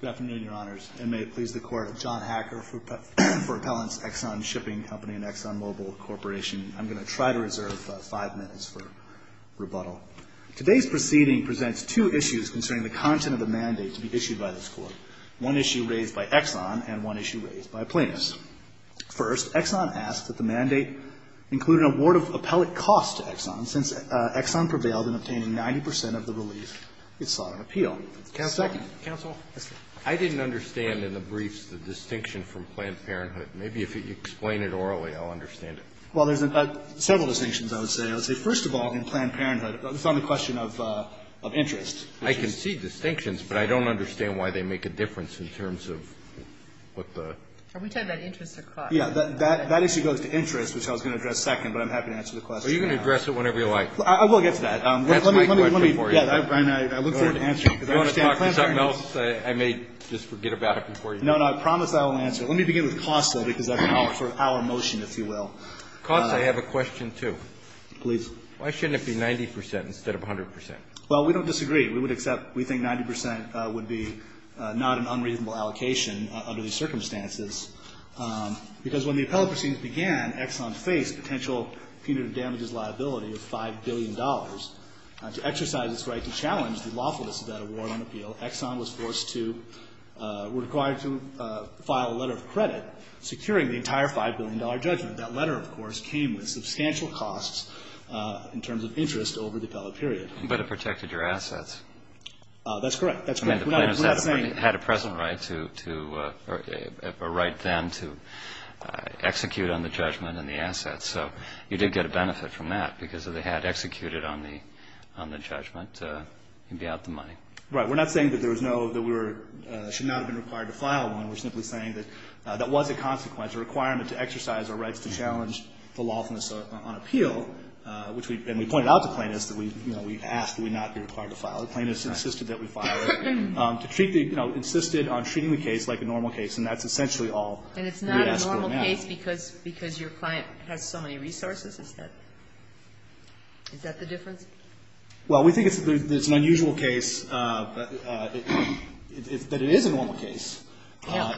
Good afternoon, Your Honors, and may it please the Court, John Hacker for Appellants Exxon Shipping Company and Exxon Mobil Corporation. I'm going to try to reserve five minutes for rebuttal. Today's proceeding presents two issues concerning the content of the mandate to be issued by this Court, one issue raised by Exxon and one issue raised by Plaintiffs. First, Exxon asks that the mandate include an award of appellate costs to Exxon since Exxon prevailed in obtaining 90 percent of the relief it sought on appeal. Can I have a second? Yes, sir. I didn't understand in the briefs the distinction from Planned Parenthood. Maybe if you explain it orally, I'll understand it. Well, there's several distinctions, I would say. I would say, first of all, in Planned Parenthood, it's not a question of interest. I can see distinctions, but I don't understand why they make a difference in terms of what the – Are we talking about interest or cost? Yeah. That issue goes to interest, which I was going to address second, but I'm happy to answer the question now. Are you going to address it whenever you like? I will get to that. That's my question for you. Yeah, Brian, I look forward to answering it. If you want to talk to something else, I may just forget about it before you do. No, no. I promise I will answer it. Let me begin with costs, though, because that's sort of our motion, if you will. Costs, I have a question, too. Please. Why shouldn't it be 90 percent instead of 100 percent? Well, we don't disagree. We would accept – we think 90 percent would be not an unreasonable allocation under these circumstances because when the appellate proceedings began, Exxon faced a potential punitive damages liability of $5 billion. To exercise its right to challenge the lawfulness of that award on appeal, Exxon was forced to – required to file a letter of credit securing the entire $5 billion judgment. That letter, of course, came with substantial costs in terms of interest over the appellate period. But it protected your assets. That's correct. That's correct. We're not saying – to execute on the judgment and the assets. So you did get a benefit from that because if they had executed on the judgment, you'd be out the money. Right. We're not saying that there was no – that we should not have been required to file one. We're simply saying that that was a consequence, a requirement to exercise our rights to challenge the lawfulness on appeal, which we – and we pointed out to plaintiffs that we – you know, we asked that we not be required to file it. Plaintiffs insisted that we file it. To treat the – you know, insisted on treating the case like a normal case, and that's essentially all we ask for now. And it's not a normal case because your client has so many resources? Is that – is that the difference? Well, we think it's an unusual case, but it is a normal case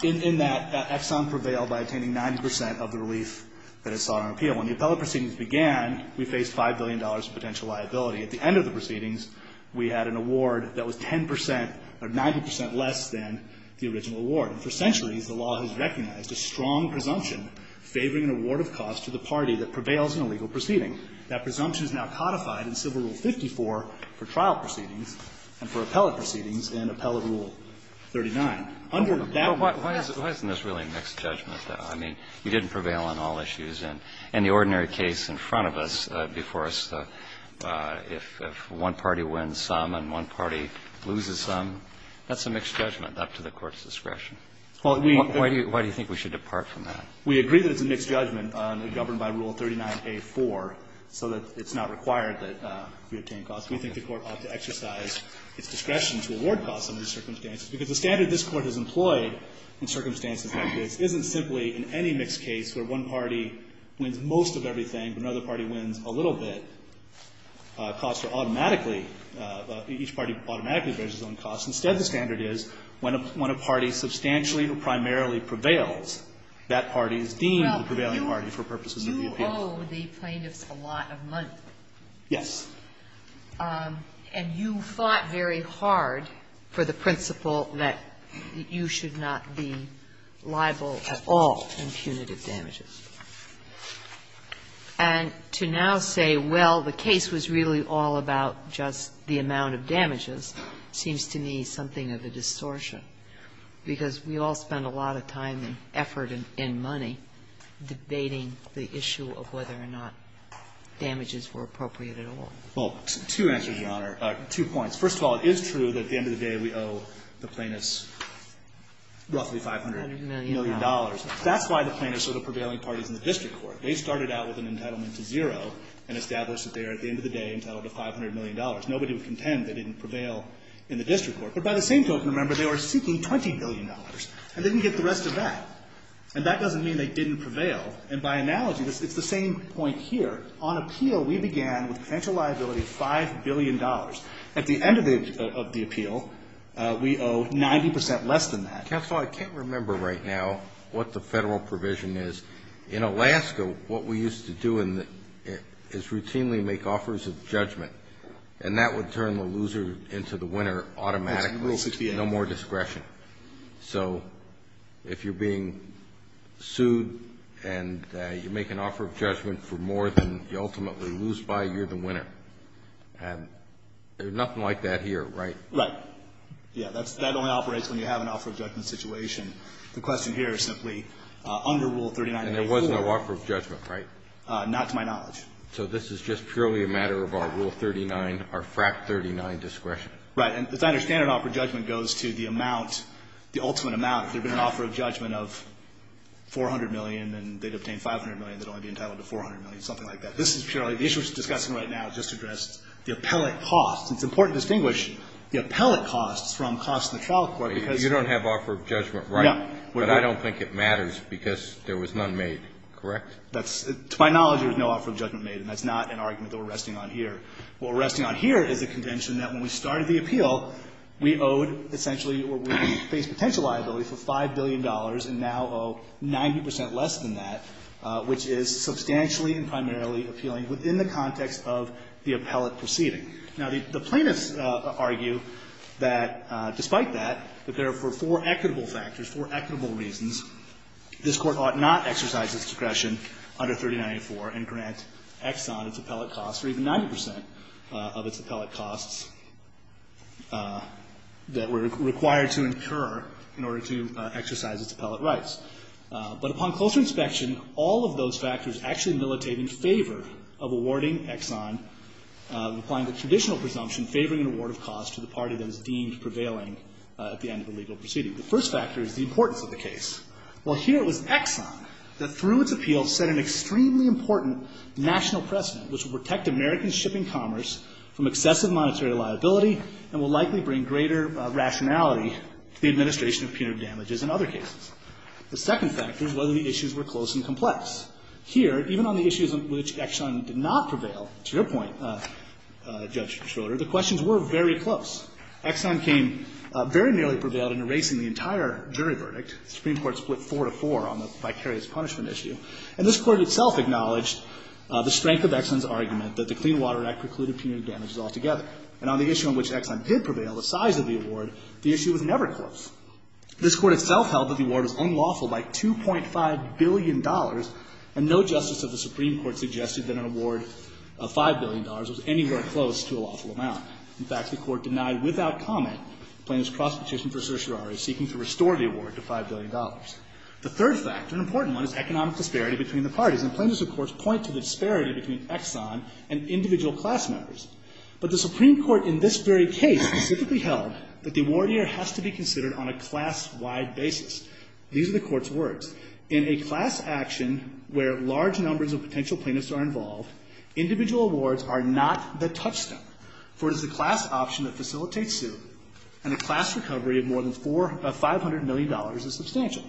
in that Exxon prevailed by attaining 90 percent of the relief that it sought on appeal. When the appellate proceedings began, we faced $5 billion in potential liability. At the end of the proceedings, we had an award that was 10 percent, or 90 percent less than the original award. And for centuries, the law has recognized a strong presumption favoring an award of cost to the party that prevails in a legal proceeding. That presumption is now codified in Civil Rule 54 for trial proceedings and for appellate proceedings in Appellate Rule 39. Under that one rule – Well, why isn't this really a mixed judgment, though? I mean, you didn't prevail on all issues. And the ordinary case in front of us, before us, if one party wins some and one party loses some, that's a mixed judgment up to the Court's discretion. Why do you think we should depart from that? We agree that it's a mixed judgment governed by Rule 39a-4 so that it's not required that we obtain cost. We think the Court ought to exercise its discretion to award cost under these circumstances because the standard this Court has employed in circumstances like this isn't simply in any mixed case where one party wins most of everything, but another party wins a little bit, costs are automatically – each party automatically bears its own costs. Instead, the standard is when a party substantially or primarily prevails, that party is deemed the prevailing party for purposes of the appeal. Well, you owe the plaintiffs a lot of money. Yes. And you fought very hard for the principle that you should not be liable at all. And punitive damages. And to now say, well, the case was really all about just the amount of damages seems to me something of a distortion, because we all spend a lot of time and effort and money debating the issue of whether or not damages were appropriate at all. Well, two answers, Your Honor. Two points. First of all, it is true that at the end of the day we owe the plaintiffs roughly $500 million. That's why the plaintiffs are the prevailing parties in the district court. They started out with an entitlement to zero and established that they are, at the end of the day, entitled to $500 million. Nobody would contend they didn't prevail in the district court. But by the same token, remember, they were seeking $20 billion and didn't get the rest of that. And that doesn't mean they didn't prevail. And by analogy, it's the same point here. On appeal, we began with a potential liability of $5 billion. At the end of the appeal, we owe 90 percent less than that. Counsel, I can't remember right now what the Federal provision is. In Alaska, what we used to do is routinely make offers of judgment. And that would turn the loser into the winner automatically. No more discretion. So if you're being sued and you make an offer of judgment for more than you ultimately lose by, you're the winner. And there's nothing like that here, right? Right. Yeah. That only operates when you have an offer of judgment situation. The question here is simply under Rule 39.84. And there was no offer of judgment, right? Not to my knowledge. So this is just purely a matter of our Rule 39, our Fract 39 discretion. Right. And as I understand it, an offer of judgment goes to the amount, the ultimate amount. If there had been an offer of judgment of $400 million and they'd obtained $500 million, they'd only be entitled to $400 million, something like that. This is purely the issue we're discussing right now. It just addressed the appellate cost. It's important to distinguish the appellate costs from costs in the trial court because you don't have offer of judgment, right? Yeah. But I don't think it matters because there was none made, correct? That's to my knowledge, there was no offer of judgment made. And that's not an argument that we're resting on here. What we're resting on here is a convention that when we started the appeal, we owed essentially or we faced potential liability for $5 billion and now owe 90 percent less than that, which is substantially and primarily appealing within the context of the appellate proceeding. Now, the plaintiffs argue that despite that, that there are for four equitable factors, four equitable reasons, this Court ought not exercise its discretion under 3094 and grant Exxon its appellate costs or even 90 percent of its appellate costs that were required to incur in order to exercise its appellate rights. But upon closer inspection, all of those factors actually militate in favor of awarding of costs to the party that is deemed prevailing at the end of the legal proceeding. The first factor is the importance of the case. While here it was Exxon that through its appeal set an extremely important national precedent which would protect American shipping commerce from excessive monetary liability and will likely bring greater rationality to the administration of punitive damages in other cases. The second factor is whether the issues were close and complex. Here, even on the issues on which Exxon did not prevail, to your point, Judge Schroeder, the questions were very close. Exxon came very nearly prevailed in erasing the entire jury verdict. The Supreme Court split four to four on the vicarious punishment issue. And this Court itself acknowledged the strength of Exxon's argument that the Clean Water Act precluded punitive damages altogether. And on the issue on which Exxon did prevail, the size of the award, the issue was never close. This Court itself held that the award was unlawful by $2.5 billion, and no justice of the Supreme Court suggested that an award of $5 billion was anywhere close to a lawful amount. In fact, the Court denied without comment plaintiff's cross petition for certiorari seeking to restore the award to $5 billion. The third factor, an important one, is economic disparity between the parties. And plaintiffs' reports point to the disparity between Exxon and individual class members. But the Supreme Court in this very case specifically held that the award here has to be considered on a class-wide basis. These are the Court's words. In a class action where large numbers of potential plaintiffs are involved, individual awards are not the touchstone, for it is the class option that facilitates suit. And a class recovery of more than $500 million is substantial,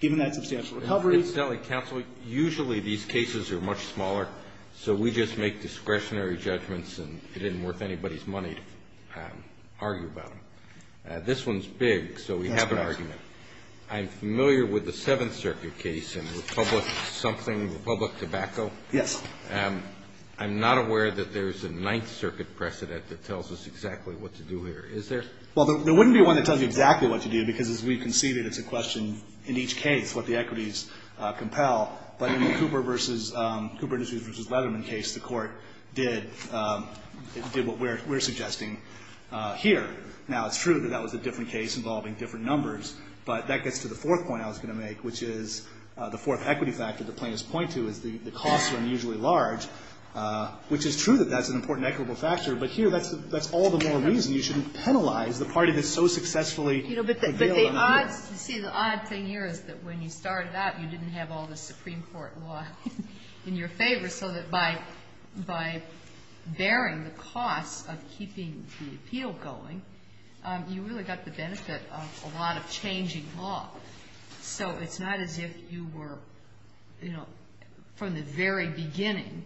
given that substantial recovery. Alito, usually these cases are much smaller, so we just make discretionary judgments and it isn't worth anybody's money to argue about them. This one's big, so we have an argument. That's right. I'm familiar with the Seventh Circuit case in Republic-something, Republic Tobacco. Yes. I'm not aware that there's a Ninth Circuit precedent that tells us exactly what to do here. Is there? Well, there wouldn't be one that tells you exactly what to do, because as we conceded, it's a question in each case what the equities compel. But in the Cooper v. Leatherman case, the Court did what we're suggesting here. Now, it's true that that was a different case involving different numbers, but that gets to the fourth point I was going to make, which is the fourth equity factor the plaintiffs point to is the costs are unusually large, which is true that that's an important equitable factor. But here, that's all the more reason you shouldn't penalize the party that so successfully could deal with them. But the odds to see the odd thing here is that when you started out, you didn't have all the Supreme Court law in your favor, so that by bearing the costs of keeping the appeal going, you really got the benefit of a lot of changing law. So it's not as if you were, you know, from the very beginning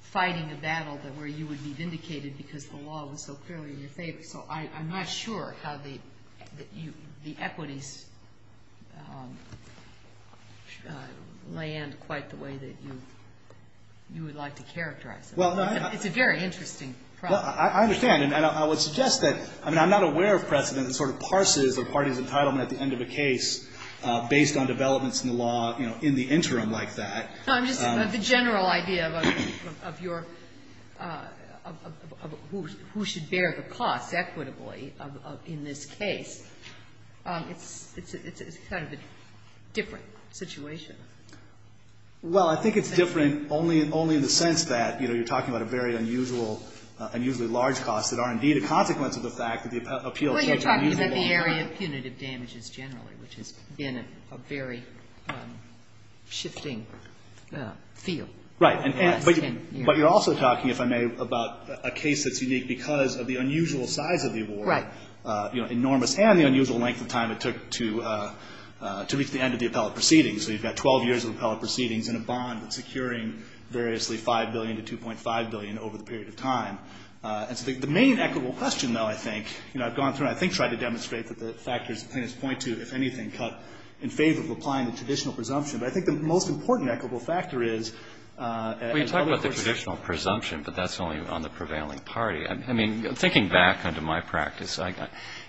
fighting a battle where you would be vindicated because the law was so clearly in your favor. So I'm not sure how the equities lay in quite the way that you would like to characterize them. It's a very interesting problem. I understand. And I would suggest that, I mean, I'm not aware of precedent that sort of parses the party's entitlement at the end of a case based on developments in the law, you know, in the interim like that. But the general idea of your, of who should bear the costs equitably in this case, it's kind of a different situation. Well, I think it's different only in the sense that, you know, you're talking about a very unusual, unusually large cost that are, indeed, a consequence of the fact that the appeal is unusually large. Well, you're talking about the area of punitive damages generally, which has been a very shifting field. Right. But you're also talking, if I may, about a case that's unique because of the unusual size of the award. Right. You know, enormous, and the unusual length of time it took to reach the end of the appellate proceedings. So you've got 12 years of appellate proceedings and a bond that's securing variously $5 billion to $2.5 billion over the period of time. And so the main equitable question, though, I think, you know, I've gone through and I think tried to demonstrate that the factors the plaintiffs point to, if anything, cut in favor of applying the traditional presumption. But I think the most important equitable factor is as other courts do. Well, you talk about the traditional presumption, but that's only on the prevailing party. I mean, thinking back onto my practice,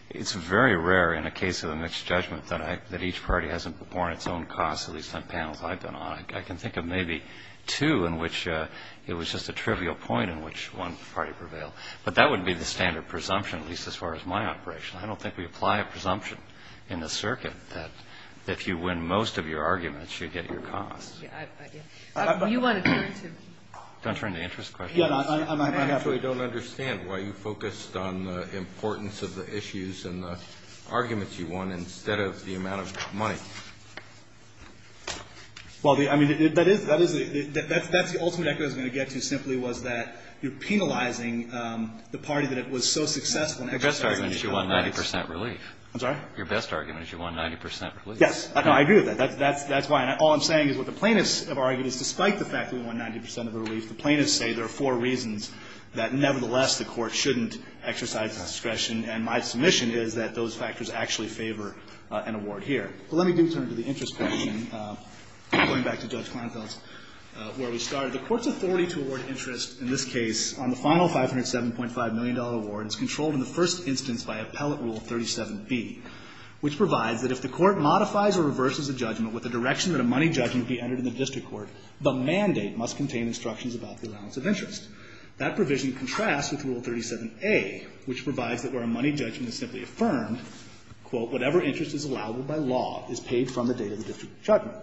it's very rare in a case of a mixed judgment that I, that each party hasn't borne its own costs at least on panels I've been on. I can think of maybe two in which it was just a trivial point in which one party prevailed. But that wouldn't be the standard presumption, at least as far as my operation. I don't think we apply a presumption in the circuit that if you win most of your arguments, you get your costs. You want to turn to me. Do I turn to interest questions? I actually don't understand why you focused on the importance of the issues and the arguments you won instead of the amount of money. Well, I mean, that is, that is the, that's the ultimate equity I was going to get to simply was that you're penalizing the party that was so successful in exercising its own rights. The best argument is you won 90 percent relief. I'm sorry? Your best argument is you won 90 percent relief. Yes. I agree with that. That's why. All I'm saying is what the plaintiffs have argued is despite the fact that we won 90 percent of the relief, the plaintiffs say there are four reasons that nevertheless the Court shouldn't exercise discretion. And my submission is that those factors actually favor an award here. But let me do turn to the interest question, going back to Judge Kleinfeld's where we started. The Court's authority to award interest in this case on the final $507.5 million award is controlled in the first instance by Appellate Rule 37b, which provides that if the Court modifies or reverses a judgment with the direction that a money judgment be entered in the district court, the mandate must contain instructions about the allowance of interest. That provision contrasts with Rule 37a, which provides that where a money judgment is simply affirmed, quote, whatever interest is allowable by law is paid from the date of the district judgment.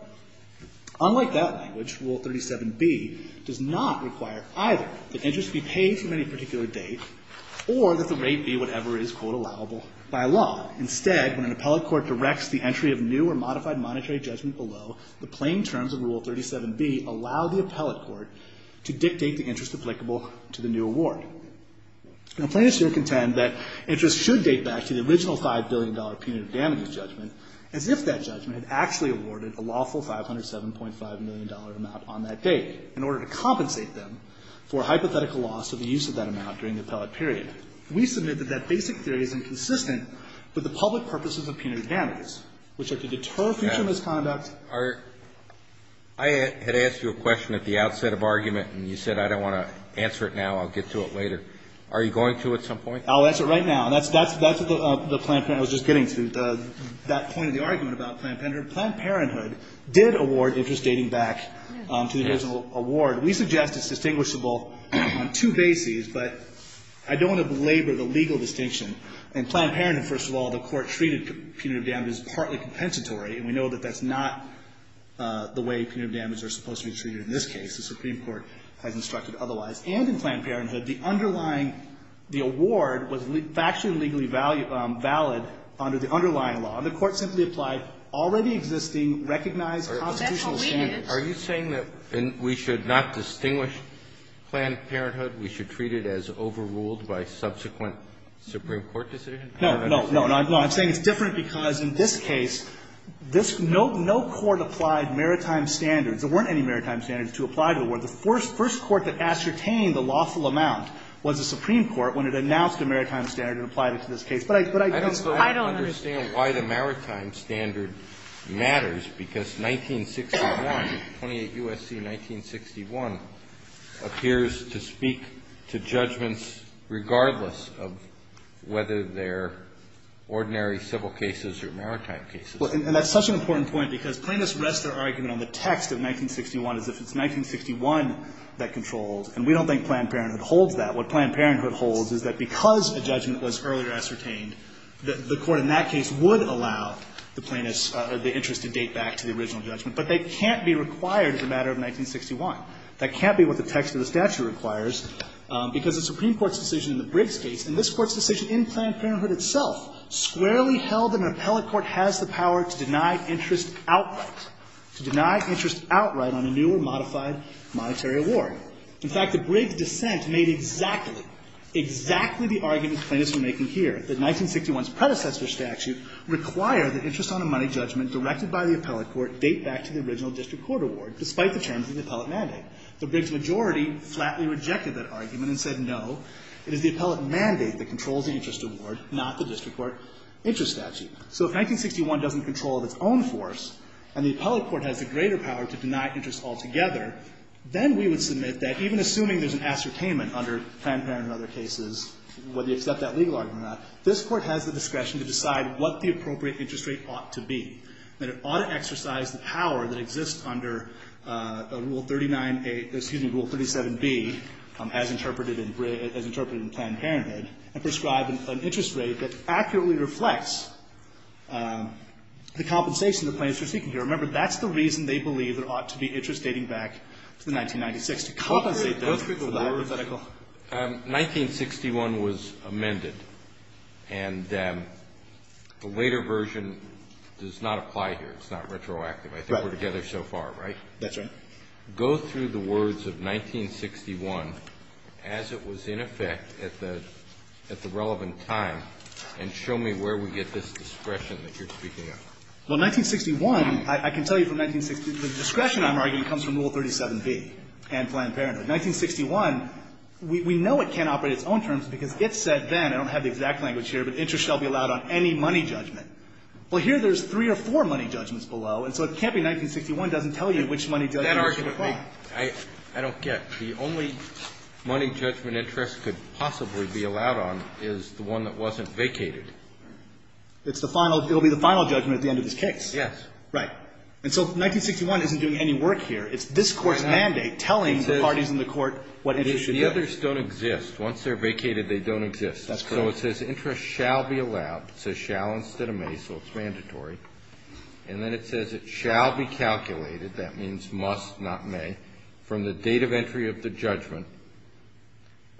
Unlike that language, Rule 37b does not require either that interest be paid from any particular date or that the rate be whatever is, quote, allowable by law. Instead, when an appellate court directs the entry of new or modified monetary judgment below, the plain terms of Rule 37b allow the appellate court to dictate the interest applicable to the new award. Now, plaintiffs here contend that interest should date back to the original $5 billion punitive damages judgment as if that judgment had actually awarded a lawful $507.5 million amount on that date in order to compensate them for hypothetical loss of the use of that amount during the appellate period. We submit that that basic theory is inconsistent with the public purposes of punitive damages, which are to deter future misconduct. Alito. I had asked you a question at the outset of argument, and you said I don't want to answer it now. I'll get to it later. Are you going to at some point? I'll answer it right now. That's the Planned Parenthood I was just getting to, that point of the argument about Planned Parenthood. Planned Parenthood did award interest dating back to the original award. We suggest it's distinguishable on two bases, but I don't want to belabor the legal distinction. In Planned Parenthood, first of all, the Court treated punitive damages partly compensatory, and we know that that's not the way punitive damages are supposed to be treated in this case. The Supreme Court has instructed otherwise. And in Planned Parenthood, the underlying the award was factually and legally valid under the underlying law, and the Court simply applied already existing recognized constitutional standards. Are you saying that we should not distinguish Planned Parenthood? We should treat it as overruled by subsequent Supreme Court decision? No. No. No. No. I'm saying it's different because in this case, this no court applied maritime standards, there weren't any maritime standards to apply to the award. The first court that ascertained the lawful amount was the Supreme Court when it announced a maritime standard and applied it to this case. But I don't understand why the maritime standard matters, because 1961, 28 U.S.C., 1961 appears to speak to judgments regardless of whether they're ordinary civil cases or maritime cases. Well, and that's such an important point because plaintiffs rest their argument on the text of 1961 as if it's 1961 that controls, and we don't think Planned Parenthood holds that. What Planned Parenthood holds is that because a judgment was earlier ascertained, the Court in that case would allow the plaintiffs, the interest to date back to the original judgment, but that can't be required as a matter of 1961. That can't be what the text of the statute requires, because the Supreme Court's decision in the Briggs case, and this Court's decision in Planned Parenthood itself, squarely held that an appellate court has the power to deny interest outright, to deny interest outright on a new or modified monetary award. In fact, the Briggs dissent made exactly, exactly the argument plaintiffs were making here, that 1961's predecessor statute required that interest on a money judgment directed by the appellate court date back to the original district court award, despite the terms of the appellate mandate. The Briggs majority flatly rejected that argument and said no, it is the appellate mandate that controls the interest award, not the district court interest statute. So if 1961 doesn't control of its own force, and the appellate court has the greater power to deny interest altogether, then we would submit that even assuming there's an ascertainment under Planned Parenthood and other cases, whether you accept that legal argument or not, this Court has the discretion to decide what the appropriate interest rate ought to be, that it ought to exercise the power that exists under Rule 39a, excuse me, Rule 37b, as interpreted in Briggs, as interpreted in Planned Parenthood, and prescribe an interest rate that accurately reflects the compensation the plaintiffs were seeking here. Remember, that's the reason they believe there ought to be interest dating back to 1996, to compensate them for the hypothetical. Kennedy. 1961 was amended, and the later version does not apply here. It's not retroactive. I think we're together so far, right? That's right. Go through the words of 1961 as it was in effect at the relevant time, and show me where we get this discretion that you're speaking of. Well, 1961, I can tell you from 1961, the discretion, I'm arguing, comes from Rule 37b and Planned Parenthood. 1961, we know it can't operate its own terms, because if said then, I don't have the exact language here, but interest shall be allowed on any money judgment. Well, here there's three or four money judgments below, and so it can't be 1961 doesn't tell you which money judgment is required. I don't get it. The only money judgment interest could possibly be allowed on is the one that wasn't vacated. It's the final. It will be the final judgment at the end of this case. Yes. Right. And so 1961 isn't doing any work here. It's this Court's mandate telling the parties in the Court what interest should be. The others don't exist. Once they're vacated, they don't exist. That's correct. So it says interest shall be allowed. It says shall instead of may, so it's mandatory. And then it says it shall be calculated, that means must, not may, from the date of entry of the judgment.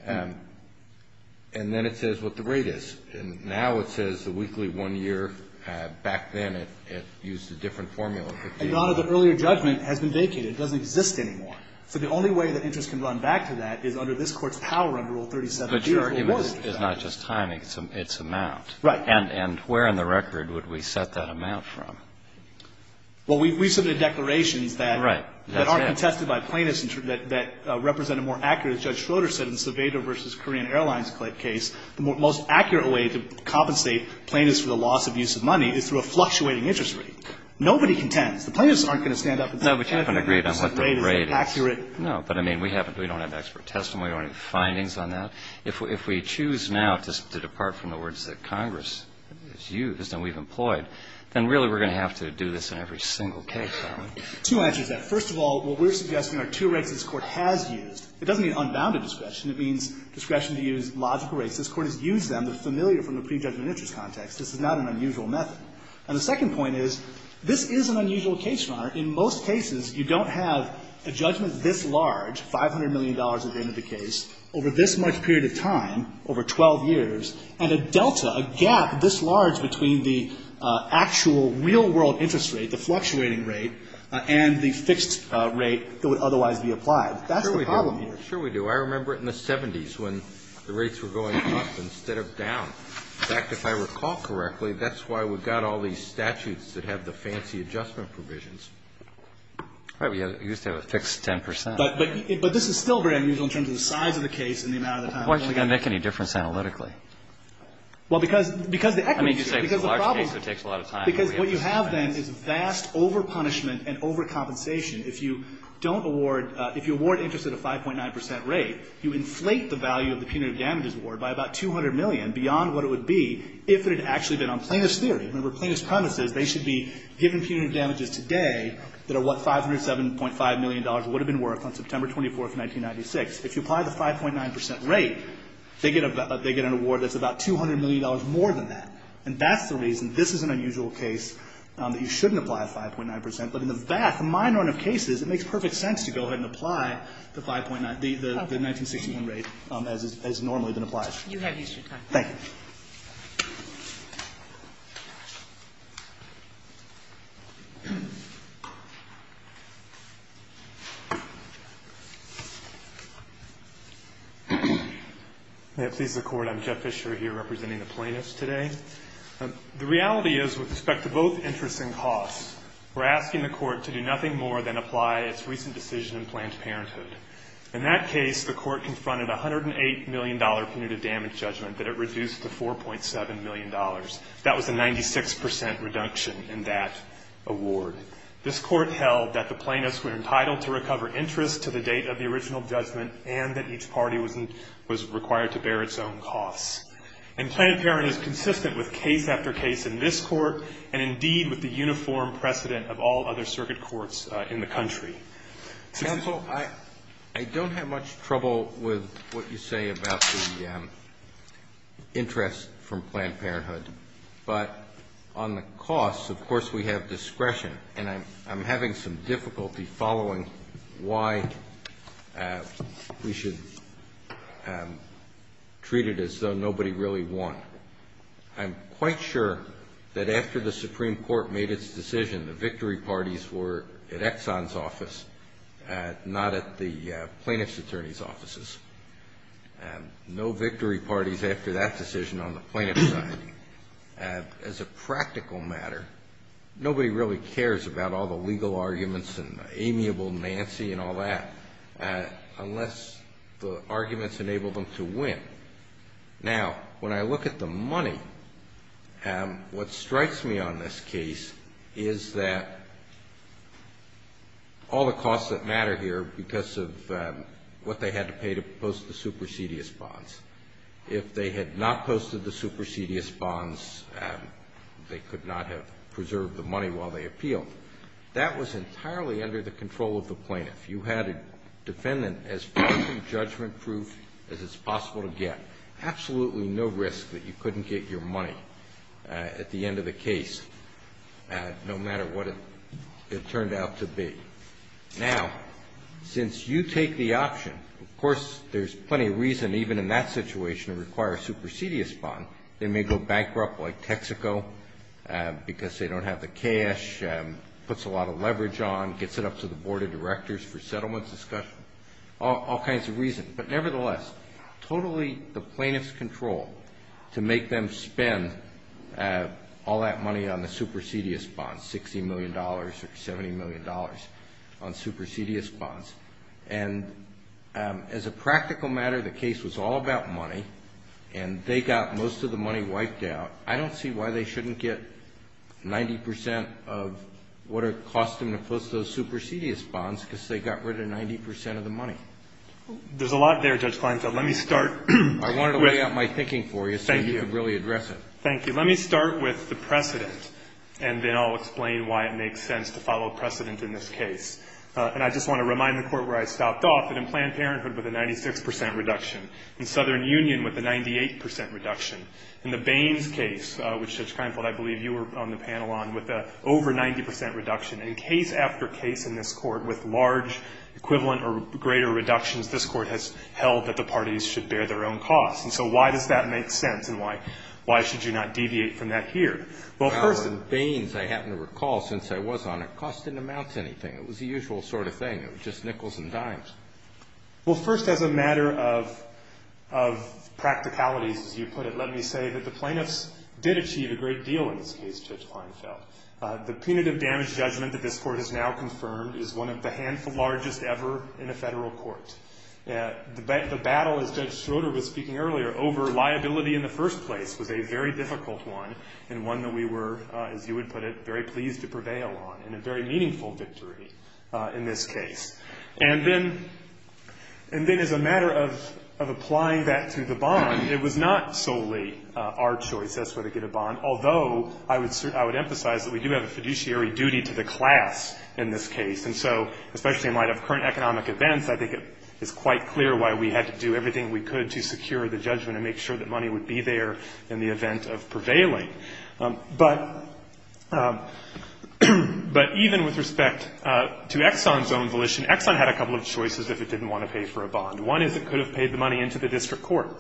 And then it says what the rate is. And now it says the weekly one year. Back then it used a different formula. The earlier judgment has been vacated. It doesn't exist anymore. So the only way that interest can run back to that is under this Court's power under Rule 37. But your argument is not just timing. It's amount. Right. And where in the record would we set that amount from? Well, we've submitted declarations that aren't contested by plaintiffs that represent a more accurate, as Judge Schroeder said, in the Sevedo v. Korean Airlines case, the most accurate way to compensate plaintiffs for the loss of use of money is through a fluctuating interest rate. Nobody contends. The plaintiffs aren't going to stand up and say, No, we haven't agreed on what the rate is. Is it accurate? No. But, I mean, we haven't. We don't have expert testimony or any findings on that. If we choose now to depart from the words that Congress has used and we've employed, then really we're going to have to do this in every single case. Two answers to that. First of all, what we're suggesting are two rates this Court has used. It doesn't mean unbounded discretion. It means discretion to use logical rates. This Court has used them. They're familiar from the prejudgment interest context. This is not an unusual method. And the second point is, this is an unusual case, Your Honor. In most cases, you don't have a judgment this large, $500 million at the end of the period of time, over 12 years, and a delta, a gap this large between the actual real world interest rate, the fluctuating rate, and the fixed rate that would otherwise be applied. That's the problem here. Sure we do. I remember it in the 70s when the rates were going up instead of down. In fact, if I recall correctly, that's why we've got all these statutes that have the fancy adjustment provisions. Right. We used to have a fixed 10 percent. But this is still very unusual in terms of the size of the case and the amount of time. Why is it going to make any difference analytically? Well, because the equity issue. I mean, you say it's a large case, so it takes a lot of time. Because what you have then is vast overpunishment and overcompensation. If you don't award – if you award interest at a 5.9 percent rate, you inflate the value of the punitive damages award by about 200 million beyond what it would be if it had actually been on plaintiff's theory. Remember, plaintiff's premises, they should be given punitive damages today that are what $507.5 million would have been worth on September 24th, 1996. If you apply the 5.9 percent rate, they get an award that's about $200 million more than that. And that's the reason this is an unusual case that you shouldn't apply a 5.9 percent. But in the vast minority of cases, it makes perfect sense to go ahead and apply the 5.9 – the 1961 rate as has normally been applied. You have used your time. May it please the Court, I'm Jeff Fisher here representing the plaintiffs today. The reality is, with respect to both interest and cost, we're asking the Court to do nothing more than apply its recent decision in Planned Parenthood. In that case, the Court confronted a $108 million punitive damage judgment that it million dollars. That was a 96 percent reduction in that award. This Court held that the plaintiffs were entitled to recover interest to the date of the original judgment and that each party was required to bear its own costs. And Planned Parenthood is consistent with case after case in this Court and, indeed, with the uniform precedent of all other circuit courts in the country. Counsel, I don't have much trouble with what you say about the interest from Planned Parenthood. But on the cost, of course, we have discretion. And I'm having some difficulty following why we should treat it as though nobody really won. I'm quite sure that after the Supreme Court made its decision, the victory parties were at Exxon's office, not at the plaintiff's attorney's offices. No victory parties after that decision on the plaintiff's side. As a practical matter, nobody really cares about all the legal arguments and amiable Nancy and all that unless the arguments enable them to win. Now, when I look at the money, what strikes me on this case is that all the costs that matter here because of what they had to pay to post the supersedious bonds. If they had not posted the supersedious bonds, they could not have preserved the money while they appealed. That was entirely under the control of the plaintiff. You had a defendant as far from judgment-proof as it's possible to get. Absolutely no risk that you couldn't get your money at the end of the case, no matter what it turned out to be. Now, since you take the option, of course, there's plenty of reason even in that situation to require a supersedious bond. They may go bankrupt like Texaco because they don't have the cash, puts a lot of money on supersedious bonds. There's settlement discussion, all kinds of reasons. But nevertheless, totally the plaintiff's control to make them spend all that money on the supersedious bonds, $60 million or $70 million on supersedious bonds. And as a practical matter, the case was all about money, and they got most of the money wiped out. I don't see why they shouldn't get 90 percent of what it cost them to post those supersedious bonds. They got rid of 90 percent of the money. There's a lot there, Judge Kleinfeld. Let me start with... I wanted to lay out my thinking for you... Thank you. ...so you could really address it. Thank you. Let me start with the precedent, and then I'll explain why it makes sense to follow precedent in this case. And I just want to remind the Court where I stopped off that in Planned Parenthood with a 96 percent reduction, in Southern Union with a 98 percent reduction, in the Baines case, which, Judge Kleinfeld, I believe you were on the panel on, with an over 90 percent equivalent or greater reductions, this Court has held that the parties should bear their own costs. And so why does that make sense, and why should you not deviate from that here? Well, first... Bower and Baines, I happen to recall, since I was on it, cost didn't amount to anything. It was the usual sort of thing. It was just nickels and dimes. Well, first, as a matter of practicalities, as you put it, let me say that the plaintiffs did achieve a great deal in this case, Judge Kleinfeld. The punitive damage judgment that this Court has now confirmed is one of the handful largest ever in a Federal court. The battle, as Judge Schroeder was speaking earlier, over liability in the first place was a very difficult one, and one that we were, as you would put it, very pleased to prevail on, and a very meaningful victory in this case. And then as a matter of applying that to the bond, it was not solely our choice as to whether to get a bond, although I would emphasize that we do have a fiduciary duty to the class in this case. And so, especially in light of current economic events, I think it is quite clear why we had to do everything we could to secure the judgment and make sure that money would be there in the event of prevailing. But even with respect to Exxon's own volition, Exxon had a couple of choices if it didn't want to pay for a bond. One is it could have paid the money into the district court,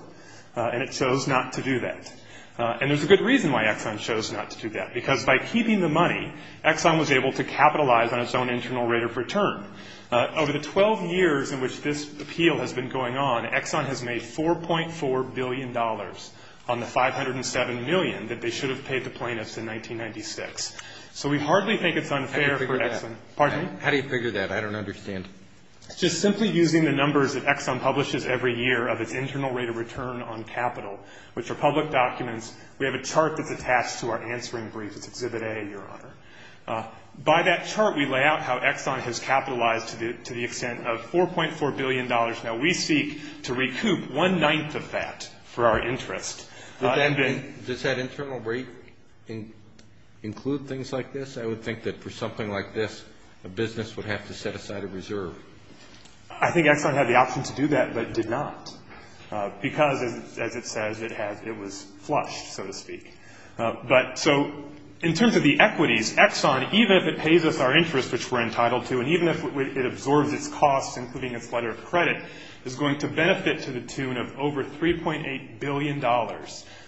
and it chose not to do that. And there's a good reason why Exxon chose not to do that, because by keeping the money, Exxon was able to capitalize on its own internal rate of return. Over the 12 years in which this appeal has been going on, Exxon has made $4.4 billion on the $507 million that they should have paid the plaintiffs in 1996. So we hardly think it's unfair for Exxon. Pardon me? How do you figure that? I don't understand. Just simply using the numbers that Exxon publishes every year of its internal rate of return on capital, which are public documents, we have a chart that's attached to our answering brief. It's Exhibit A, Your Honor. By that chart, we lay out how Exxon has capitalized to the extent of $4.4 billion. Now, we seek to recoup one-ninth of that for our interest. Does that internal rate include things like this? I would think that for something like this, a business would have to set aside a reserve. I think Exxon had the option to do that, but did not because, as it says, it was flushed, so to speak. So in terms of the equities, Exxon, even if it pays us our interest, which we're entitled to, and even if it absorbs its costs, including its letter of credit, is going to benefit to the tune of over $3.8 billion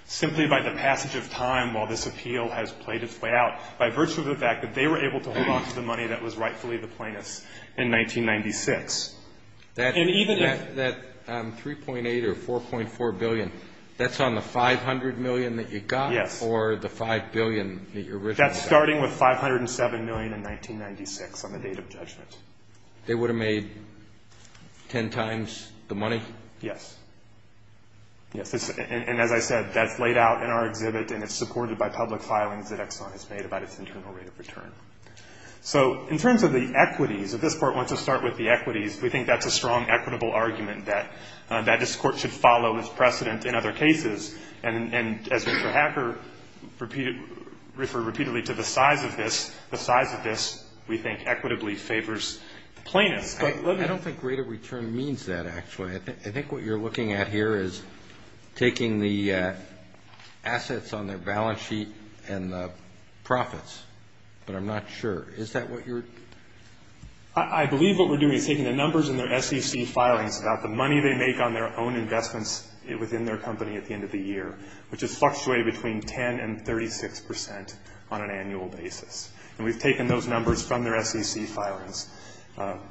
simply by the passage of time while this appeal has played its way out by virtue of the fact that they were able to hold on to the money that was rightfully the plaintiff's in 1996. And even if that $3.8 or $4.4 billion, that's on the $500 million that you got or the $5 billion that you originally got? That's starting with $507 million in 1996 on the date of judgment. They would have made ten times the money? Yes. And as I said, that's laid out in our exhibit, and it's supported by public So in terms of the equities, if this Court wants to start with the equities, we think that's a strong equitable argument that this Court should follow this precedent in other cases. And as Mr. Hacker referred repeatedly to the size of this, the size of this, we think, equitably favors the plaintiffs. I don't think greater return means that, actually. I think what you're looking at here is taking the assets on their balance sheet and the profits, but I'm not sure. Is that what you're? I believe what we're doing is taking the numbers in their SEC filings about the money they make on their own investments within their company at the end of the year, which is fluctuating between 10 and 36 percent on an annual basis. And we've taken those numbers from their SEC filings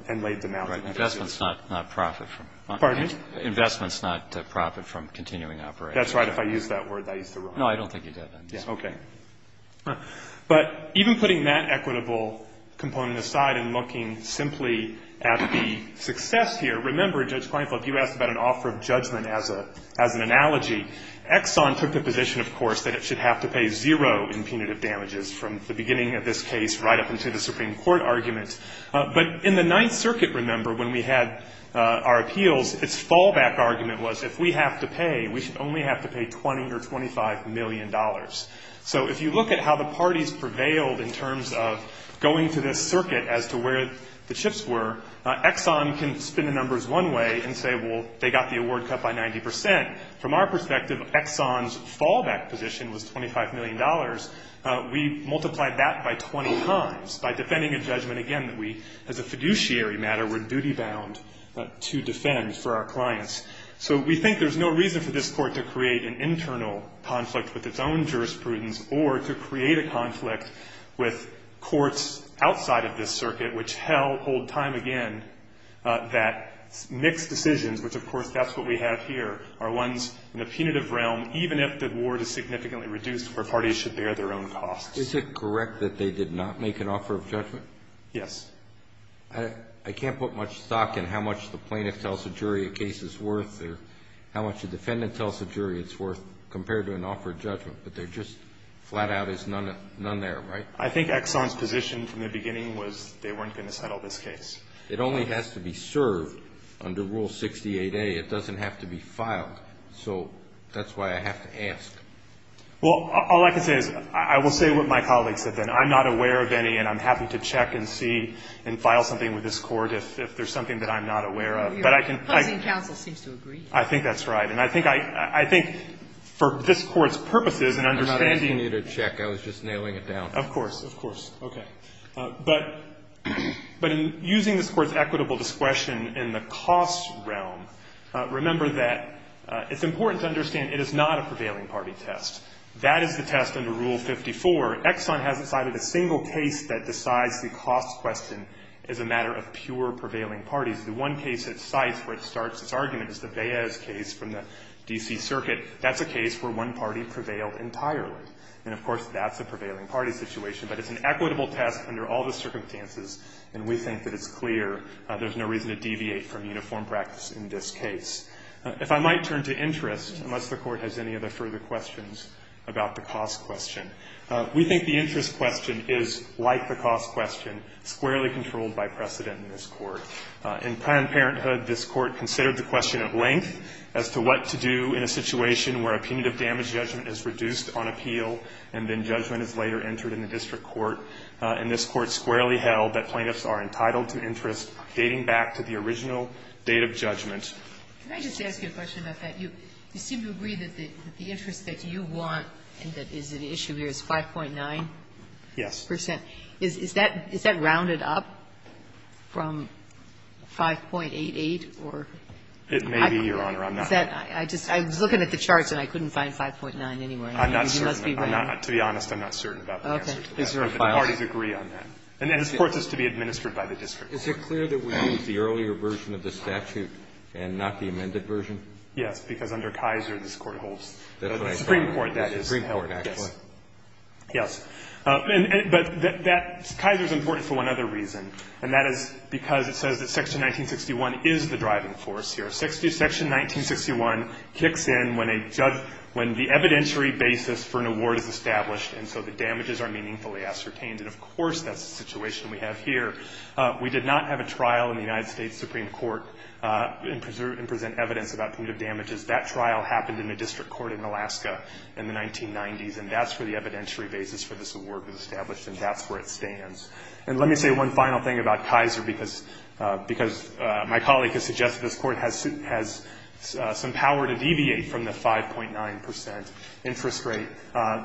and laid them out. Right. Investments not profit from. Pardon me? Investments not profit from continuing operations. That's right. If I used that word, I used it wrong. No, I don't think you did. Okay. But even putting that equitable component aside and looking simply at the success here, remember, Judge Kleinfeld, you asked about an offer of judgment as an analogy. Exxon took the position, of course, that it should have to pay zero in punitive damages from the beginning of this case right up until the Supreme Court argument. But in the Ninth Circuit, remember, when we had our appeals, its fallback argument was if we have to pay, we should only have to pay $20 or $25 million. So if you look at how the parties prevailed in terms of going through this circuit as to where the chips were, Exxon can spin the numbers one way and say, well, they got the award cut by 90 percent. From our perspective, Exxon's fallback position was $25 million. We multiplied that by 20 times by defending a judgment, again, that we, as a fiduciary matter, were duty-bound to defend for our clients. So we think there's no reason for this Court to create an internal conflict with its own jurisprudence or to create a conflict with courts outside of this circuit, which, hell, hold time again, that mixed decisions, which, of course, that's what we have here, are ones in the punitive realm, even if the award is significantly reduced, where parties should bear their own costs. Is it correct that they did not make an offer of judgment? Yes. I can't put much stock in how much the plaintiff tells the jury a case is worth or how much the defendant tells the jury it's worth compared to an offer of judgment, but they're just flat out as none there, right? I think Exxon's position from the beginning was they weren't going to settle this case. It only has to be served under Rule 68A. It doesn't have to be filed. So that's why I have to ask. Well, all I can say is I will say what my colleagues have been. I'm not aware of any, and I'm happy to check and see and file something with this Court if there's something that I'm not aware of, but I can. Your opposing counsel seems to agree. I think that's right. And I think for this Court's purposes and understanding. I'm not asking you to check. I was just nailing it down. Of course, of course. Okay. But in using this Court's equitable discretion in the cost realm, remember that it's important to understand it is not a prevailing party test. That is the test under Rule 54. Exxon hasn't cited a single case that decides the cost question is a matter of pure prevailing parties. The one case that cites where it starts its argument is the Baez case from the D.C. Circuit. That's a case where one party prevailed entirely. And, of course, that's a prevailing party situation. But it's an equitable test under all the circumstances, and we think that it's clear there's no reason to deviate from uniform practice in this case. If I might turn to interest, unless the Court has any other further questions about the cost question, we think the interest question is, like the cost question, squarely controlled by precedent in this Court. In Planned Parenthood, this Court considered the question of length as to what to do in a situation where a punitive damage judgment is reduced on appeal and then judgment is later entered in the district court. And this Court squarely held that plaintiffs are entitled to interest dating back to the original date of judgment. Ginsburg. Can I just ask you a question about that? You seem to agree that the interest that you want and that is at issue here is 5.9%? Yes. Is that rounded up from 5.88 or? It may be, Your Honor. I'm not sure. I was looking at the charts and I couldn't find 5.9 anywhere. I'm not certain. To be honest, I'm not certain about the answer to that. Okay. Is there a file? The parties agree on that. And this Court is to be administered by the district court. Is it clear that we use the earlier version of the statute and not the amended version? Yes. Because under Kaiser, this Court holds. The Supreme Court. The Supreme Court, actually. Yes. But Kaiser is important for one other reason. And that is because it says that Section 1961 is the driving force here. Section 1961 kicks in when the evidentiary basis for an award is established and so the damages are meaningfully ascertained. And, of course, that's the situation we have here. We did not have a trial in the United States Supreme Court and present evidence about punitive damages. That trial happened in the district court in Alaska in the 1990s, and that's where the evidentiary basis for this award was established and that's where it stands. And let me say one final thing about Kaiser, because my colleague has suggested this Court has some power to deviate from the 5.9 percent interest rate.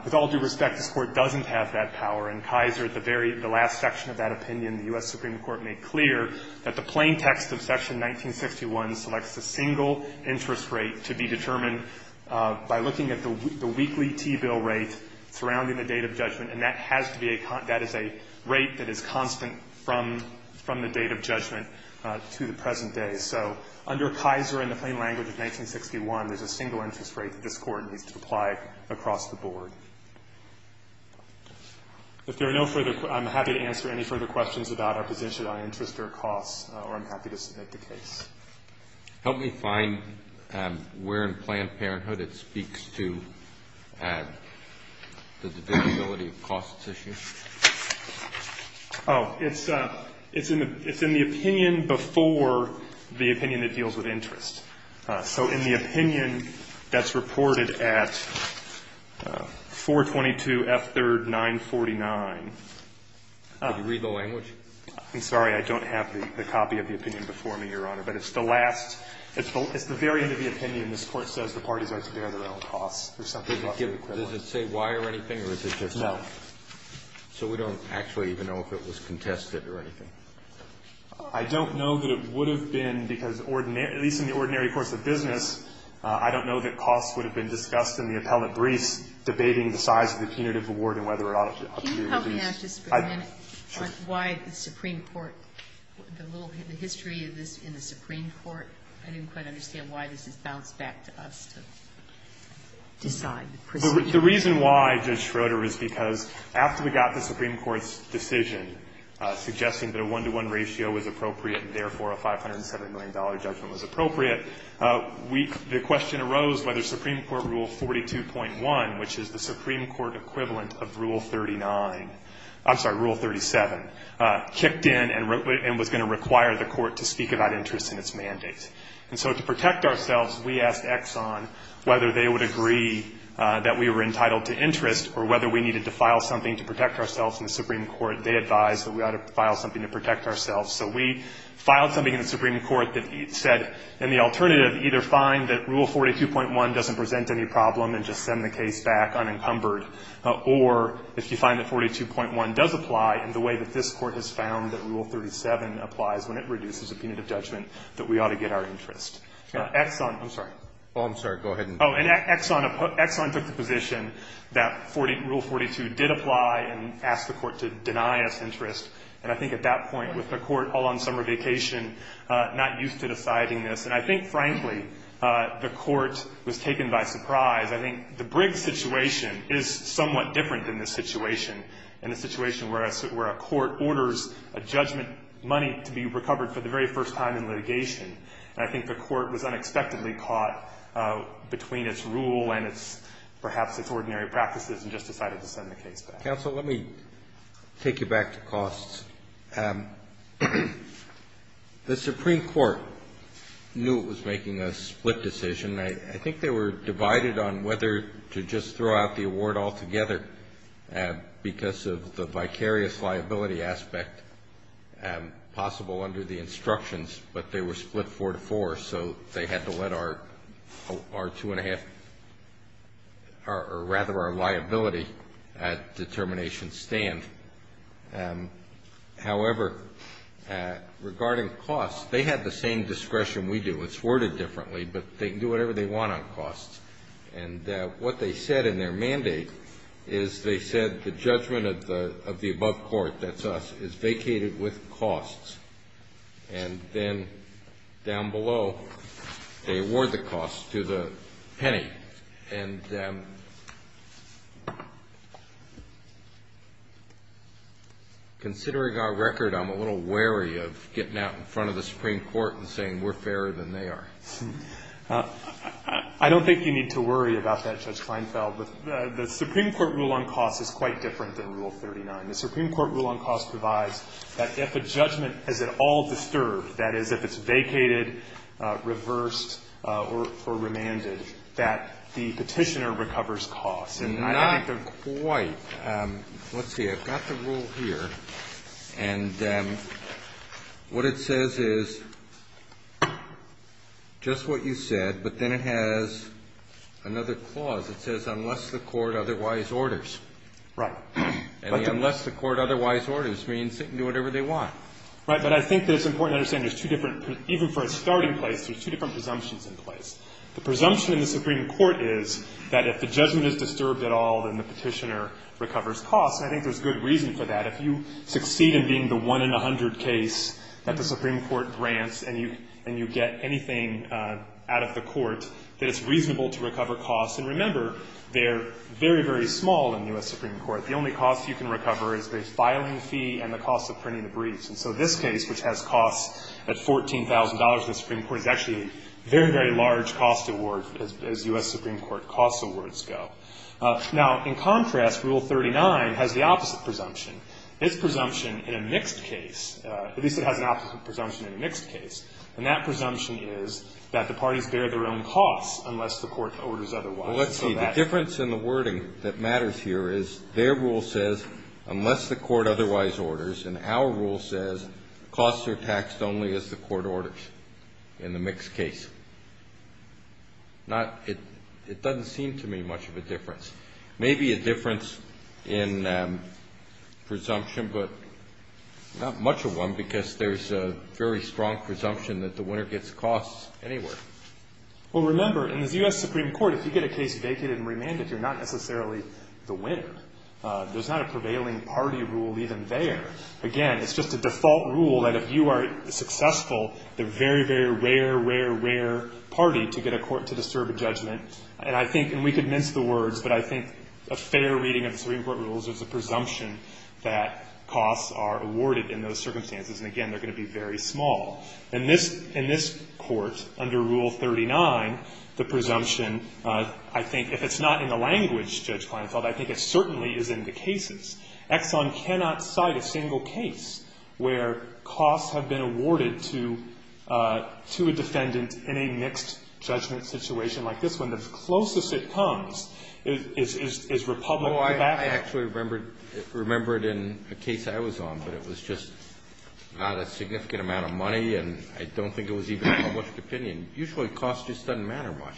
With all due respect, this Court doesn't have that power. In Kaiser, the very last section of that opinion, the U.S. Supreme Court made clear that the plain text of Section 1961 selects a single interest rate to be determined by looking at the weekly T-bill rate surrounding the date of judgment, and that has to be a concern. That is a rate that is constant from the date of judgment to the present day. So under Kaiser in the plain language of 1961, there's a single interest rate that this Court needs to apply across the board. If there are no further questions, I'm happy to answer any further questions about our position on interest or costs, or I'm happy to submit the case. Help me find where in Planned Parenthood it speaks to the divisibility of costs issue. Oh, it's in the opinion before the opinion that deals with interest. So in the opinion that's reported at 422F3rd 949. Did you read the language? I'm sorry. I don't have the copy of the opinion before me, Your Honor. But it's the last. It's the very end of the opinion this Court says the parties are to bear their own costs or something of the equivalent. Does it say why or anything, or is it just? No. So we don't actually even know if it was contested or anything? I don't know that it would have been because, at least in the ordinary course of business, I don't know that costs would have been discussed in the appellate briefs debating the size of the punitive award and whether it ought to be reduced. Can you help me ask just for a minute why the Supreme Court, the little, the history of this in the Supreme Court? I didn't quite understand why this is bounced back to us to decide the proceeding. The reason why, Judge Schroeder, is because after we got the Supreme Court's decision suggesting that a one-to-one ratio was appropriate and, therefore, a $507 million judgment was appropriate, we, the question arose whether Supreme Court Rule 42.1, which is the Supreme Court equivalent of Rule 39, I'm sorry, Rule 37, kicked in and was going to require the Court to speak about interest in its mandate. And so to protect ourselves, we asked Exxon whether they would agree that we were entitled to interest or whether we needed to file something to protect ourselves in the Supreme Court. They advised that we ought to file something to protect ourselves. So we filed something in the Supreme Court that said, in the alternative, either fine that Rule 42.1 doesn't present any problem and just send the case back unencumbered, or if you find that 42.1 does apply in the way that this Court has found that Rule 37 applies when it reduces a punitive judgment, that we ought to get our interest. Exxon, I'm sorry. Oh, I'm sorry. Go ahead. Oh, and Exxon took the position that Rule 42 did apply and asked the Court to deny us interest. And I think at that point, with the Court all on summer vacation, not used to deciding this, and I think, frankly, the Court was taken by surprise. I think the Briggs situation is somewhat different than this situation, and the situation where a court orders a judgment money to be recovered for the very first time in litigation. And I think the Court was unexpectedly caught between its rule and its, perhaps, its ordinary practices and just decided to send the case back. Counsel, let me take you back to costs. The Supreme Court knew it was making a split decision. I think they were divided on whether to just throw out the award altogether because of the vicarious liability aspect possible under the instructions, but they were split four to four, so they had to let our two-and-a-half, or rather our liability determination stand. However, regarding costs, they had the same discretion we do. It's worded differently, but they can do whatever they want on costs. And what they said in their mandate is they said the judgment of the above court, that's us, is vacated with costs. And then down below, they award the cost to the penny. And considering our record, I'm a little wary of getting out in front of the Supreme Court and saying we're fairer than they are. I don't think you need to worry about that, Judge Kleinfeld. The Supreme Court rule on costs is quite different than Rule 39. The Supreme Court rule on costs provides that if a judgment is at all disturbed, that is, if it's vacated, reversed, or remanded, that the Petitioner recovers costs. And I think the quite – let's see. I've got the rule here. And what it says is just what you said, but then it has another clause. It says unless the court otherwise orders. Right. And unless the court otherwise orders means they can do whatever they want. Right. But I think that it's important to understand there's two different – even for a starting place, there's two different presumptions in place. The presumption in the Supreme Court is that if the judgment is disturbed at all, then the Petitioner recovers costs. And I think there's good reason for that. If you succeed in being the one in a hundred case that the Supreme Court grants and you get anything out of the court, that it's reasonable to recover costs. And remember, they're very, very small in the U.S. Supreme Court. The only costs you can recover is the filing fee and the cost of printing the briefs. And so this case, which has costs at $14,000 in the Supreme Court, is actually a very, very large cost award as U.S. Supreme Court cost awards go. Now, in contrast, Rule 39 has the opposite presumption. It's presumption in a mixed case. At least it has an opposite presumption in a mixed case. And that presumption is that the parties bear their own costs unless the court orders otherwise. Well, let's see. The difference in the wording that matters here is their rule says, unless the court otherwise orders, and our rule says costs are taxed only as the court orders in the mixed case. Not – it doesn't seem to me much of a difference. Maybe a difference in presumption, but not much of one, because there's a very strong presumption that the winner gets costs anywhere. Well, remember, in the U.S. Supreme Court, if you get a case vacated and remanded, you're not necessarily the winner. There's not a prevailing party rule even there. Again, it's just a default rule that if you are successful, they're very, very rare, rare, rare party to get a court to disturb a judgment. And I think – and we could mince the words, but I think a fair reading of the Supreme Court rules is a presumption that costs are awarded in those circumstances. And, again, they're going to be very small. In this court, under Rule 39, the presumption, I think if it's not in the language, Judge Kleinfeld, I think it certainly is in the cases. Exxon cannot cite a single case where costs have been awarded to a defendant in a mixed-judgment situation like this one. The closest it comes is Republic of Africa. Well, I actually remember it in a case I was on, but it was just not a significant amount of money, and I don't think it was even a published opinion. Usually costs just don't matter much.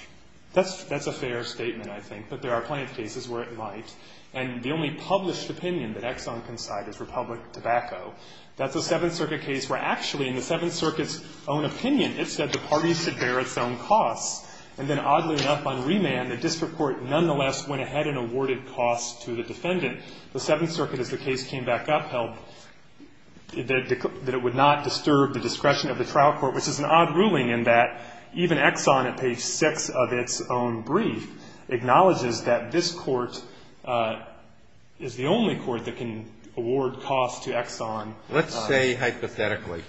That's a fair statement, I think. But there are plenty of cases where it might. And the only published opinion that Exxon can cite is Republic Tobacco. That's a Seventh Circuit case where actually in the Seventh Circuit's own opinion it said the parties should bear its own costs. And then, oddly enough, on remand, the district court nonetheless went ahead and awarded costs to the defendant. The Seventh Circuit, as the case came back up, held that it would not disturb the discretion of the trial court, which is an odd ruling in that even Exxon, at page 6 of its own brief, acknowledges that this court is the only court that can award costs to Exxon. Let's say, hypothetically,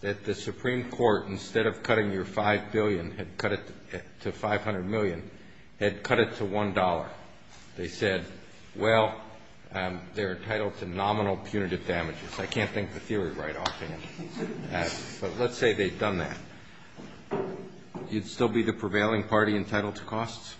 that the Supreme Court, instead of cutting your $5 billion, had cut it to $500 million, had cut it to $1. They said, well, they're entitled to nominal punitive damages. I can't think of a theory right off the bat. But let's say they've done that. You'd still be the prevailing party entitled to costs?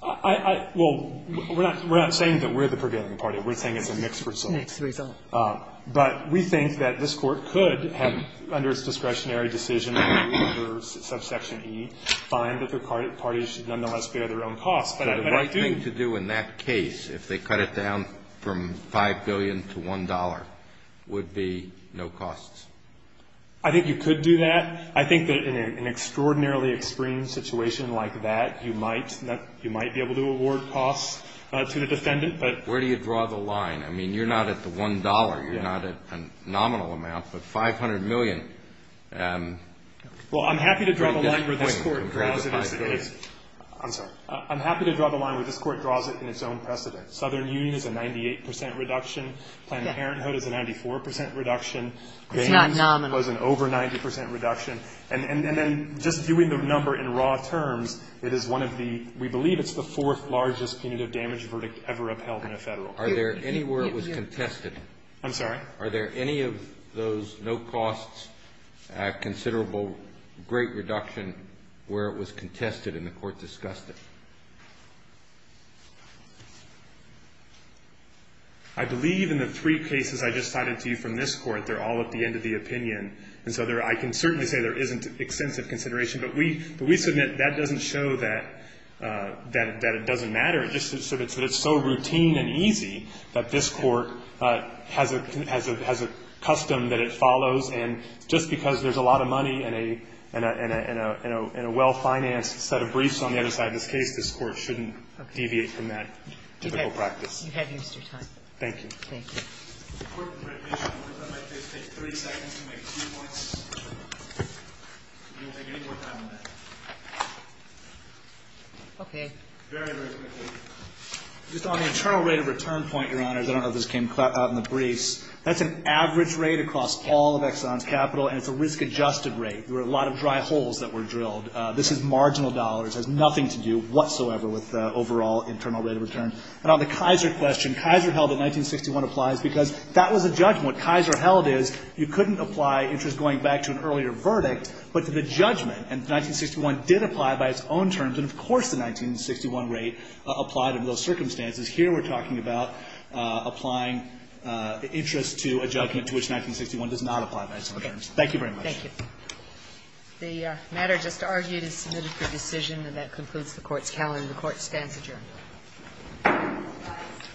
Fisherman. Well, we're not saying that we're the prevailing party. We're saying it's a mixed result. Kagan. But we think that this Court could have, under its discretionary decision under subsection E, find that the parties should nonetheless bear their own costs. But I do. But the right thing to do in that case, if they cut it down from $5 billion to $1, would be no costs? I think you could do that. I think that in an extraordinarily extreme situation like that, you might be able to award costs to the defendant. But where do you draw the line? I mean, you're not at the $1. You're not at a nominal amount. But $500 million. Well, I'm happy to draw the line where this Court draws it. I'm sorry. I'm happy to draw the line where this Court draws it in its own precedent. Southern Union is a 98% reduction. Planned Parenthood is a 94% reduction. It's not nominal. Gaines was an over 90% reduction. And then just viewing the number in raw terms, it is one of the, we believe it's the fourth largest punitive damage verdict ever upheld in a Federal. Are there any where it was contested? I'm sorry? Are there any of those no costs, considerable, great reduction where it was contested and the Court discussed it? I believe in the three cases I just cited to you from this Court, they're all at the end of the opinion. And so I can certainly say there isn't extensive consideration. But we submit that doesn't show that it doesn't matter. It's just that it's so routine and easy that this Court has a custom that it follows. And just because there's a lot of money and a well-financed set of briefs on the other side of this case, this Court shouldn't deviate from that typical practice. Thank you. Thank you. Just on the internal rate of return point, Your Honors, I don't know if this came out in the briefs. That's an average rate across all of Exxon's capital, and it's a risk-adjusted rate. There were a lot of dry holes that were drilled. This is marginal dollars. It has nothing to do whatsoever with the overall internal rate of return. And on the Kaiser question, Kaiser held that 1961 applies because that was a judgment. Kaiser held is you couldn't apply interest going back to an earlier verdict, but to the judgment. And 1961 did apply by its own terms. And, of course, the 1961 rate applied under those circumstances. Here we're talking about applying interest to a judgment to which 1961 does not apply by its own terms. Thank you very much. Thank you. The matter just argued is submitted for decision. And that concludes the Court's calendar. The Court stands adjourned. Thank you.